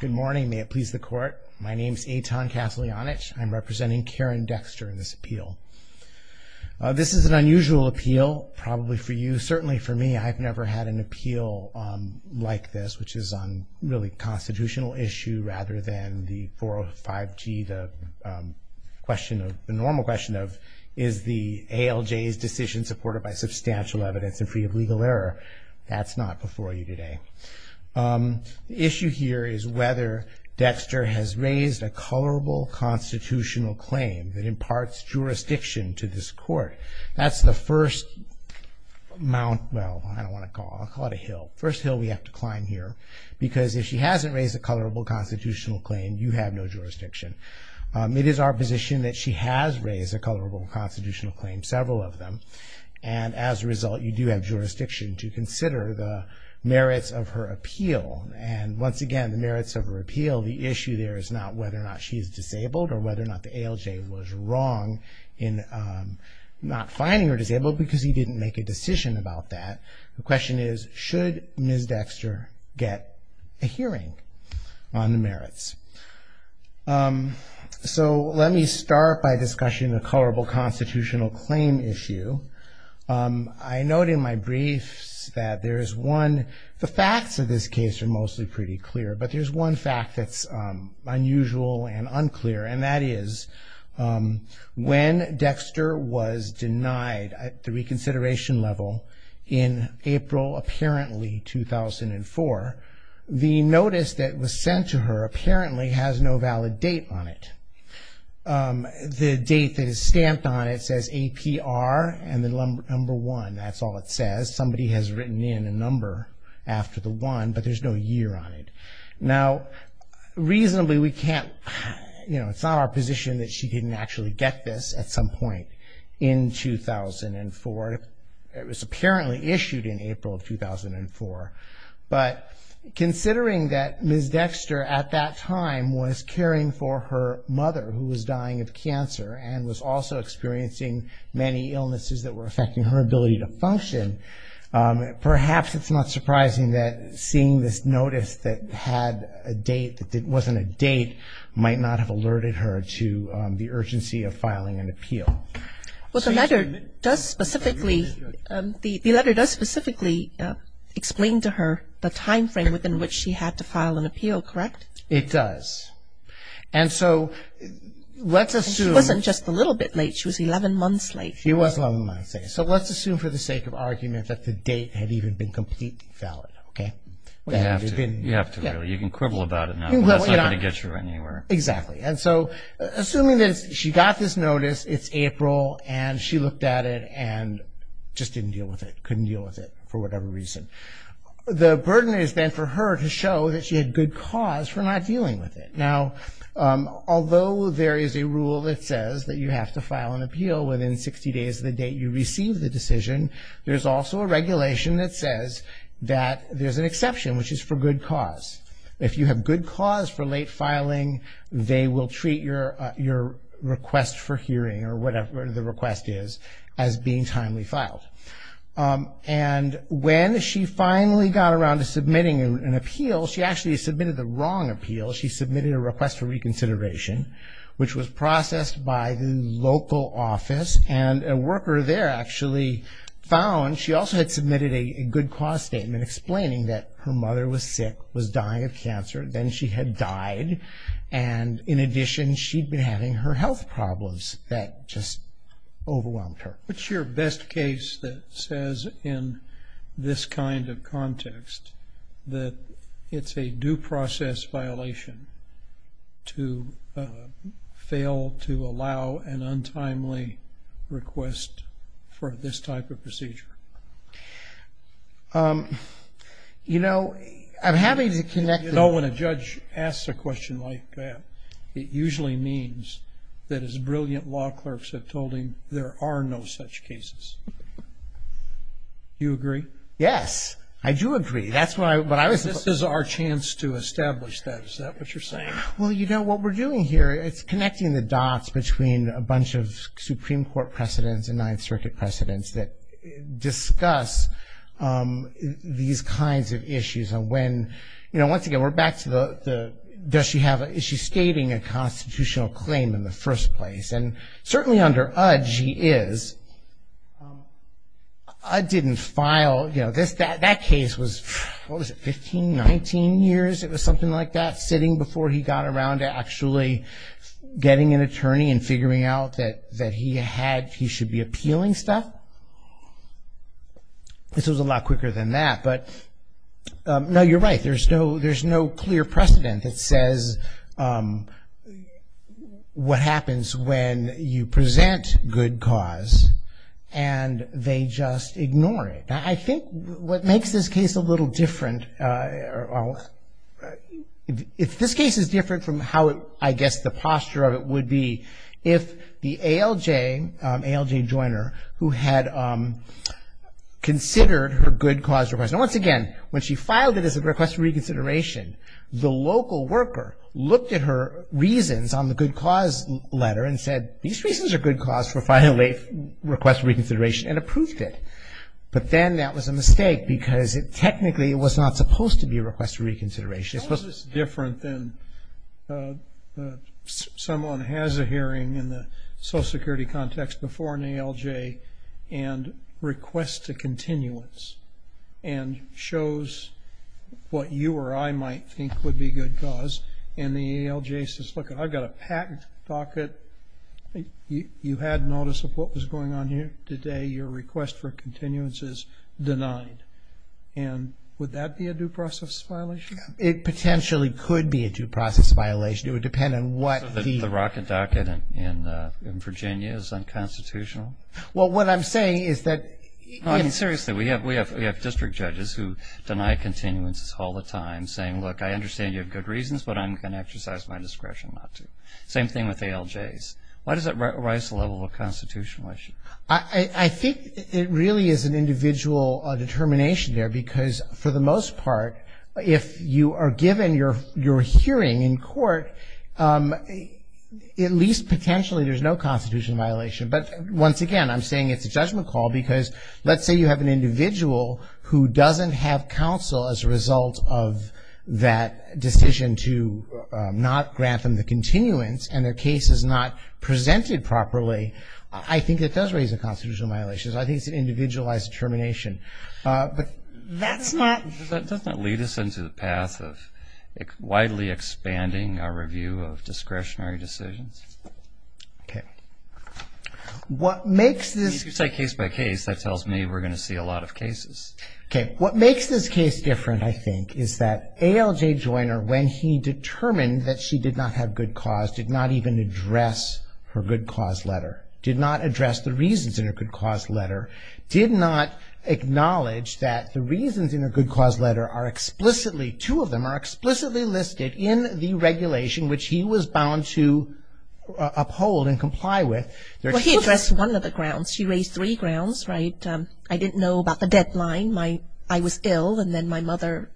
Good morning may it please the court my name is Eitan Kaslianich I'm representing Karen Dexter in this appeal. This is an unusual appeal probably for you certainly for me I've never had an appeal like this which is on really constitutional issue rather than the 405 G the question of the normal question of is the ALJ's decision supported by substantial evidence and free of legal error that's not before you today. The issue here is whether Dexter has raised a colorable constitutional claim that imparts jurisdiction to this court that's the first mount well I don't want to call it a hill first hill we have to climb here because if she hasn't raised a colorable constitutional claim you have no jurisdiction. It is our position that she has raised a colorable constitutional claim several of them and as a result you do have jurisdiction to consider the merits of her appeal and once again the merits of her appeal the issue there is not whether or not she is disabled or whether or not the ALJ was wrong in not finding her disabled because he didn't make a decision about that. The question is should Ms. Dexter get a hearing on the merits. So let me start by discussing a colorable constitutional claim issue. I note in my briefs that there is one the facts of this case are mostly pretty clear but there's one fact that's unusual and unclear and that is when Dexter was denied at the reconsideration level in April apparently 2004 the notice that was sent to her apparently has no valid date on it. The date that is stamped on it says APR and the number one that's all it says somebody has written in a number after the one but there's no year on it. Now reasonably we can't you know it's not our position that she didn't actually get this at some point in 2004 it was apparently issued in April of 2004 but considering that Ms. Dexter at that time was caring for her mother who was dying of cancer and was also experiencing many illnesses that were affecting her ability to function perhaps it's not surprising that seeing this notice that had a date that it wasn't a date might not have alerted her to the urgency of filing an appeal. Well the letter does specifically explain to her the time frame within which she had to file an appeal correct? It does and so let's assume. She wasn't just a little bit late she was 11 months late. She was 11 months late so let's assume for the sake of argument that the date had even been completely valid okay. You have to really you can quibble about it now but that's not going to get you anywhere. Exactly and so assuming that she got this notice it's April and she looked at it and just didn't deal with it couldn't deal with it for whatever reason. The burden is then for her to show that she had good cause for not dealing with it. Now although there is a rule that says that you have to file an appeal within 60 days of the date you receive the decision there's also a regulation that says that there's an exception which is for good cause. If you have good cause for late filing they will treat your request for hearing or whatever the request is as being timely filed and when she finally got around to submitting an appeal she actually submitted the wrong appeal. She submitted a request for reconsideration which was processed by the local office and a worker there actually found she also had submitted a good cause statement explaining that her and in addition she'd been having her health problems that just overwhelmed her. What's your best case that says in this kind of context that it's a due process violation to fail to allow an untimely request for this type of procedure? You know I'm having to connect. You know when a judge asks a question like that it usually means that his brilliant law clerks have told him there are no such cases. You agree? Yes I do agree that's what I was. This is our chance to establish that is that what you're saying? Well you know what we're doing here it's connecting the dots between a bunch of Supreme Court precedents and Ninth Circuit precedents that discuss these kinds of issues and when you know once again we're back to the does she have an issue stating a constitutional claim in the first place and certainly under Udge she is. Udge didn't file you know this that that case was what was it 15, 19 years it was something like that sitting before he got around to actually getting an attorney and figuring out that that he had he should be appealing stuff. This was a lot quicker than that but no you're right there's no there's no clear precedent that says what happens when you present good cause and they just ignore it. I think what makes this case a little different if this case is different from how I guess the ALJ ALJ joiner who had considered her good cause request and once again when she filed it as a request for reconsideration the local worker looked at her reasons on the good cause letter and said these reasons are good cause for filing a request for reconsideration and approved it but then that was a mistake because it technically it was not supposed to be a request for Social Security context before an ALJ and request to continuance and shows what you or I might think would be good cause and the ALJ says look I've got a patent docket you had notice of what was going on here today your request for continuance is denied and would that be a due process violation? It potentially could be a due process violation it would depend on what the rocket docket in Virginia is unconstitutional. Well what I'm saying is that I mean seriously we have we have we have district judges who deny continuance all the time saying look I understand you have good reasons but I'm gonna exercise my discretion not to. Same thing with ALJs. Why does it rise the level of constitutional issue? I think it really is an individual determination there because for the most potentially there's no constitutional violation but once again I'm saying it's a judgment call because let's say you have an individual who doesn't have counsel as a result of that decision to not grant them the continuance and their case is not presented properly I think it does raise a constitutional violations I think it's an individualized determination but that's not that doesn't lead us into the path of widely expanding our review of okay what makes this case by case that tells me we're gonna see a lot of cases okay what makes this case different I think is that ALJ Joyner when he determined that she did not have good cause did not even address her good cause letter did not address the reasons in a good cause letter did not acknowledge that the reasons in a good cause letter are explicitly two of them are explicitly listed in the regulation which he was bound to uphold and comply with. He addressed one of the grounds she raised three grounds right I didn't know about the deadline my I was ill and then my mother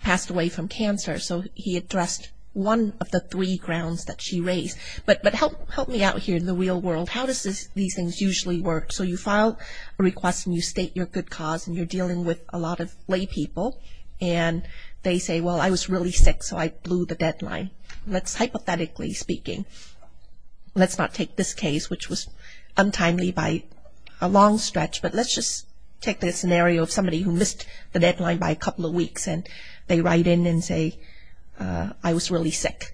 passed away from cancer so he addressed one of the three grounds that she raised but but help help me out here in the real world how does this these things usually work so you file a request and you state your good cause and you're dealing with a lot of lay people and they say well I was really sick so I blew the deadline let's hypothetically speaking let's not take this case which was untimely by a long stretch but let's just take this scenario of somebody who missed the deadline by a couple of weeks and they write in and say I was really sick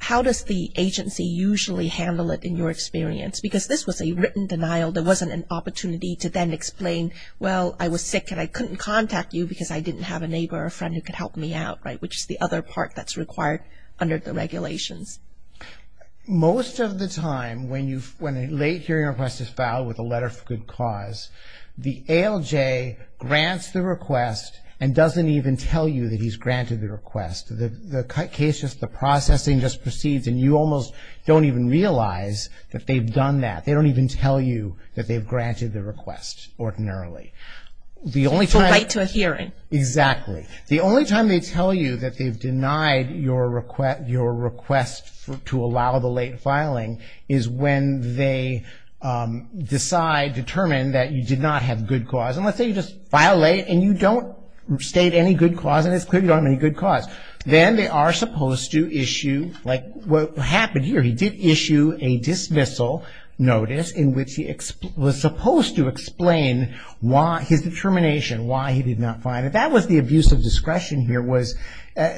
how does the agency usually handle it in your experience because this was a written denial there wasn't an opportunity to then explain well I was sick and I couldn't contact you because I didn't have a neighbor or friend who could help me out right which is the other part that's required under the regulations most of the time when you when a late hearing request is filed with a letter for good cause the ALJ grants the request and doesn't even tell you that he's granted the request that the case just the processing just proceeds and you almost don't even realize that they've done that they don't even tell you that they've granted the request ordinarily the only time I to a hearing exactly the only time they tell you that they've denied your request your request to allow the late filing is when they decide determine that you did not have good cause and let's say you just violate and you don't state any good cause and it's clear you don't have any good cause then they are supposed to issue like what happened here he did issue a dismissal notice in which he was supposed to explain why his determination why he did not find it that was the abuse of discretion here was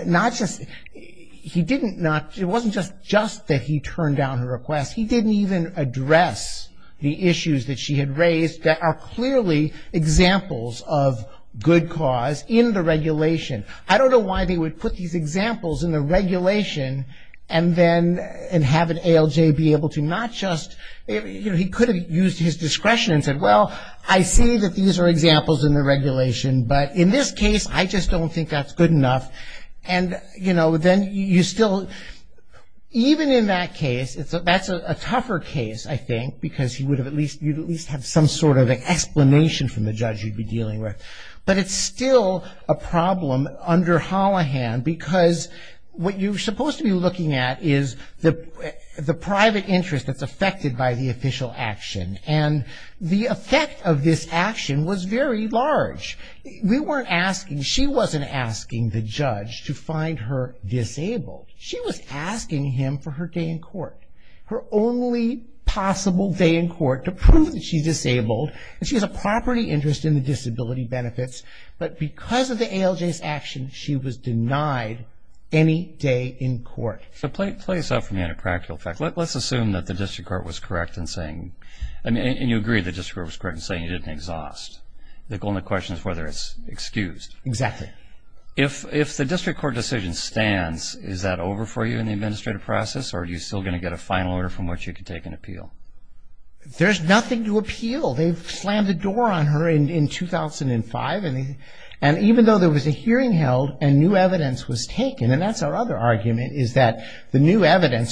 not just he didn't not it wasn't just just that he turned down her request he didn't even address the issues that she had raised that are clearly examples of good cause in the regulation I don't know why they would put these examples in the regulation and and have an ALJ be able to not just he could have used his discretion and said well I see that these are examples in the regulation but in this case I just don't think that's good enough and you know then you still even in that case it's a that's a tougher case I think because he would have at least you'd at least have some sort of explanation from the judge you'd be dealing with but it's still a problem under Holohan because what you're supposed to be looking at is the the private interest that's affected by the official action and the effect of this action was very large we weren't asking she wasn't asking the judge to find her disabled she was asking him for her day in court her only possible day in court to prove that she's disabled and she has a property interest in the disability benefits but because of the ALJ's action she was let's assume that the district court was correct in saying I mean and you agree the district was correct in saying you didn't exhaust the only question is whether it's excused exactly if if the district court decision stands is that over for you in the administrative process or are you still going to get a final order from which you could take an appeal there's nothing to appeal they've slammed the door on her in 2005 and even though there was a hearing held and new evidence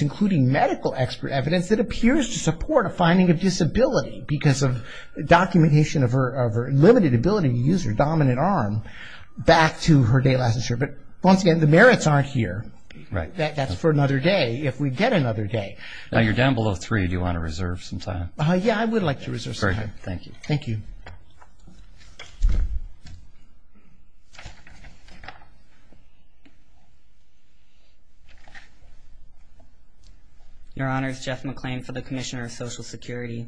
including medical expert evidence that appears to support a finding of disability because of documentation of her of her limited ability to use her dominant arm back to her day last year but once again the merits aren't here right that's for another day if we get another day now you're down below three do you want to reserve some time oh yeah I would like to reserve thank you thank you your honors Jeff McLean for the Commissioner of Social Security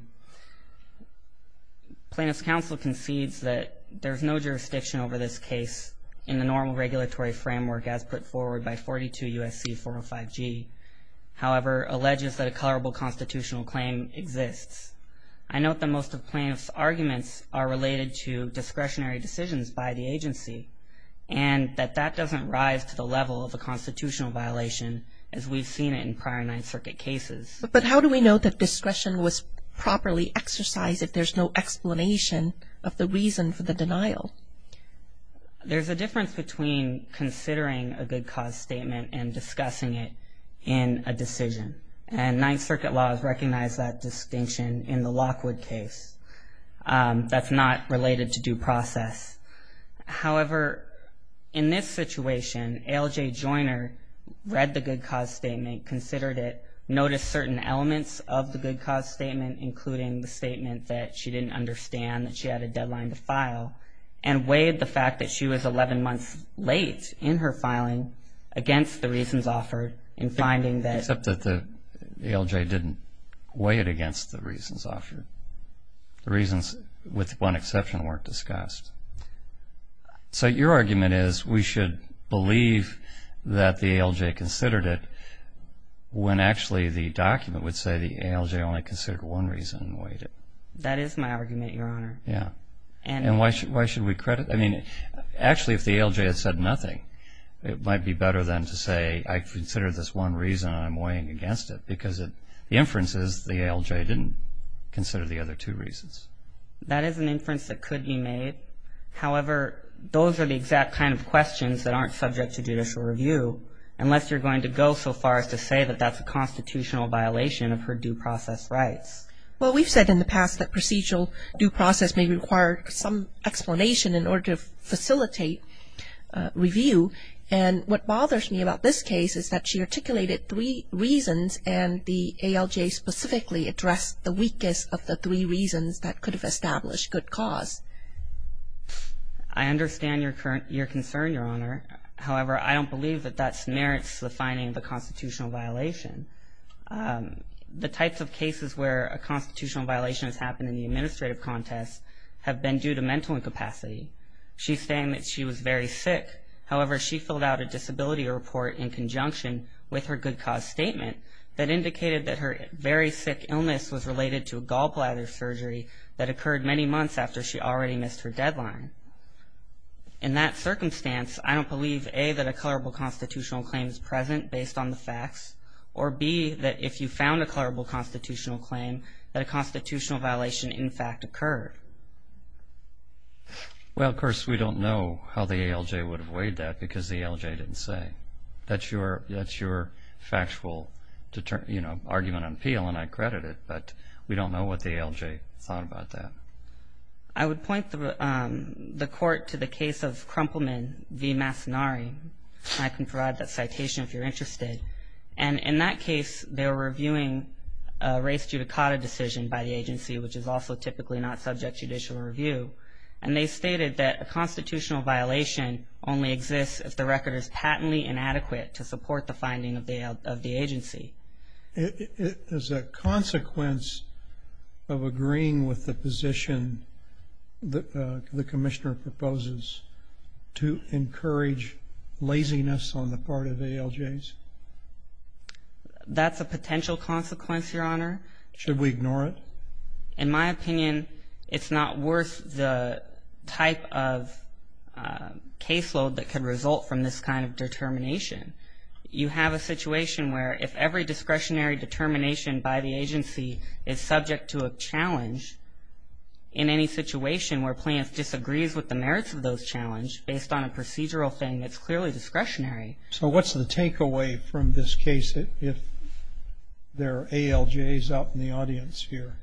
plaintiff's counsel concedes that there's no jurisdiction over this case in the normal regulatory framework as put forward by 42 USC 405 G however alleges that a the most of plaintiff's arguments are related to discretionary decisions by the agency and that that doesn't rise to the level of a constitutional violation as we've seen it in prior Ninth Circuit cases but how do we know that discretion was properly exercised if there's no explanation of the reason for the denial there's a difference between considering a good cause statement and discussing it in a decision and Ninth Circuit laws recognize that distinction in the case that's not related to due process however in this situation LJ Joyner read the good cause statement considered it noticed certain elements of the good cause statement including the statement that she didn't understand that she had a deadline to file and weighed the fact that she was 11 months late in her filing against the reasons offered in finding that except that the LJ didn't weigh it against the reasons offered the reasons with one exception weren't discussed so your argument is we should believe that the LJ considered it when actually the document would say the LJ only considered one reason waited that is my argument your honor yeah and why should why should we credit I mean actually if the LJ had said nothing it might be better than to say I consider this one reason I'm weighing against it because it the inference is the LJ didn't consider the other two reasons that is an inference that could be made however those are the exact kind of questions that aren't subject to judicial review unless you're going to go so far as to say that that's a constitutional violation of her due process rights well we've said in the past that procedural due process may require some explanation in order to articulate it three reasons and the ALJ specifically address the weakest of the three reasons that could have established good cause I understand your current your concern your honor however I don't believe that that merits the finding of a constitutional violation the types of cases where a constitutional violation has happened in the administrative contest have been due to mental incapacity she's saying that she was very sick however she filled out a disability report in conjunction with her good cause statement that indicated that her very sick illness was related to a gallbladder surgery that occurred many months after she already missed her deadline in that circumstance I don't believe a that a colorable constitutional claims present based on the facts or be that if you found a colorable constitutional claim that a constitutional violation in fact occurred well of course we don't know how the ALJ would have weighed that because the ALJ didn't say that's your that's your factual to turn you know argument on appeal and I credit it but we don't know what the ALJ thought about that I would point the court to the case of Krumpelman v. Massonari I can provide that citation if you're interested and in that case they were reviewing a race judicata decision by the agency which is also typically not subject judicial review and they stated that a only exists if the record is patently inadequate to support the finding of the of the agency it is a consequence of agreeing with the position that the commissioner proposes to encourage laziness on the part of ALJs that's a potential consequence your honor should we ignore it in my opinion it's not worth the type of caseload that can result from this kind of determination you have a situation where if every discretionary determination by the agency is subject to a challenge in any situation where plans disagrees with the merits of those challenge based on a procedural thing that's clearly discretionary so what's the takeaway from this case if there are ALJs out in the audience here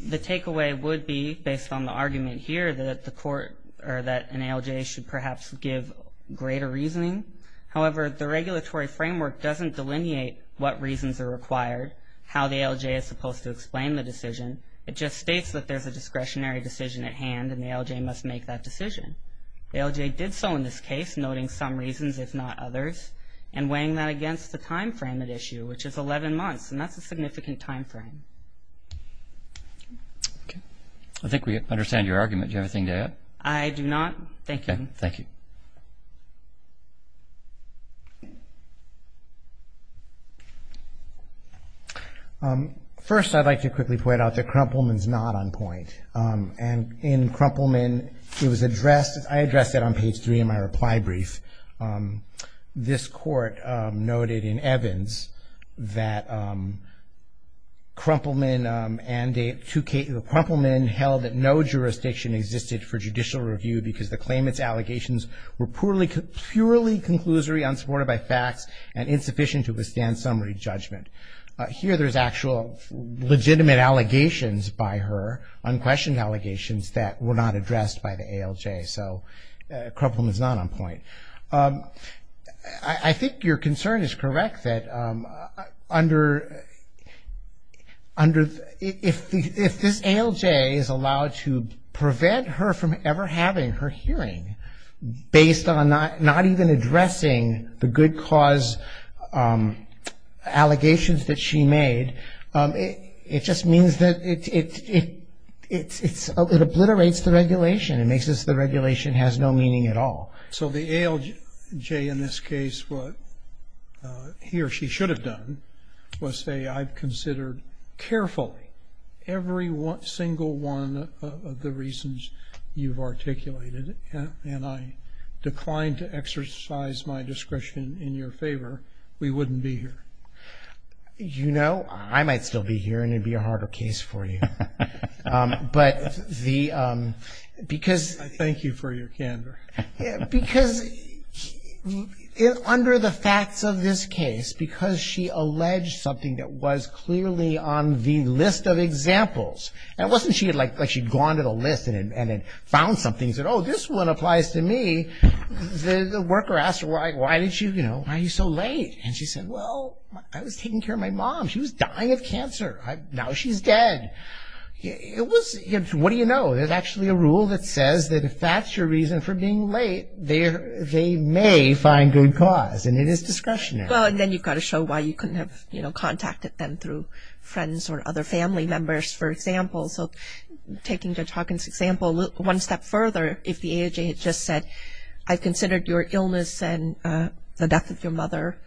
the takeaway would be based on the argument here that the court or that an ALJ should perhaps give greater reasoning however the regulatory framework doesn't delineate what reasons are required how the ALJ is supposed to explain the decision it just states that there's a discretionary decision at hand and the ALJ must make that decision the ALJ did so in this case noting some reasons if not others and weighing that against the time frame that issue which is 11 months and that's a significant time frame I think we understand your argument you have a thing to add I do not thank you thank you first I'd like to quickly point out that Krumpelman's not on point and in Krumpelman it was addressed I addressed it on page three in my reply brief this court noted in Evans that Krumpelman held that no jurisdiction existed for judicial review because the claimants allegations were purely conclusory unsupported by facts and insufficient to withstand summary judgment here there's actual legitimate allegations by her unquestioned allegations that were not addressed by the ALJ so Krumpelman is not on point I think your concern is correct that under under if if this ALJ is allowed to prevent her from ever having her hearing based on not not even addressing the good cause allegations that she made it just means that it obliterates the regulation it makes us the regulation has no meaning at all so the ALJ in this case what he or she should have done was say I've considered carefully every one single one of the reasons you've articulated and I declined to exercise my discretion in your favor we wouldn't be here you know I might still be here and it'd be a harder case for you but the because thank you for your candor because under the facts of this case because she alleged something that was clearly on the list of examples and wasn't she had like like she'd gone to the list and then found something said oh this one applies to me the worker asked why why did you you know why are you so late and she said well I was taking care of my mom she was dying of cancer now she's dead it was what do you know there's actually a rule that says that if that's your reason for being late there they may find good cause and it is discretionary well and then you've got to show why you couldn't have you know contacted them through friends or other family members for example so taking judge Hawkins example one step further if the AJ had just said I considered your illness and the death of your mother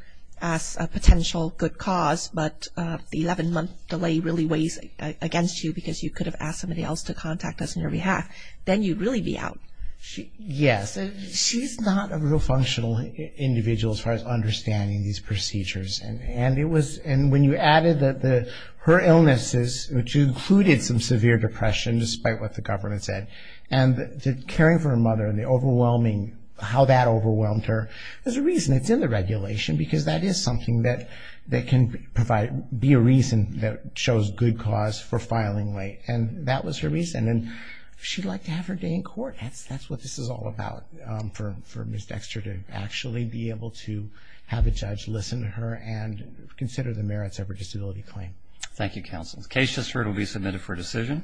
as a potential good cause but the month delay really weighs against you because you could have asked somebody else to contact us in your behalf then you'd really be out she yes she's not a real functional individual as far as understanding these procedures and and it was and when you added that the her illnesses which included some severe depression despite what the government said and the caring for her mother and the overwhelming how that overwhelmed her there's a reason it's in the reason that shows good cause for filing late and that was her reason and she'd like to have her day in court that's that's what this is all about for for miss Dexter to actually be able to have a judge listen to her and consider the merits of her disability claim thank you counsel's case just heard will be submitted for decision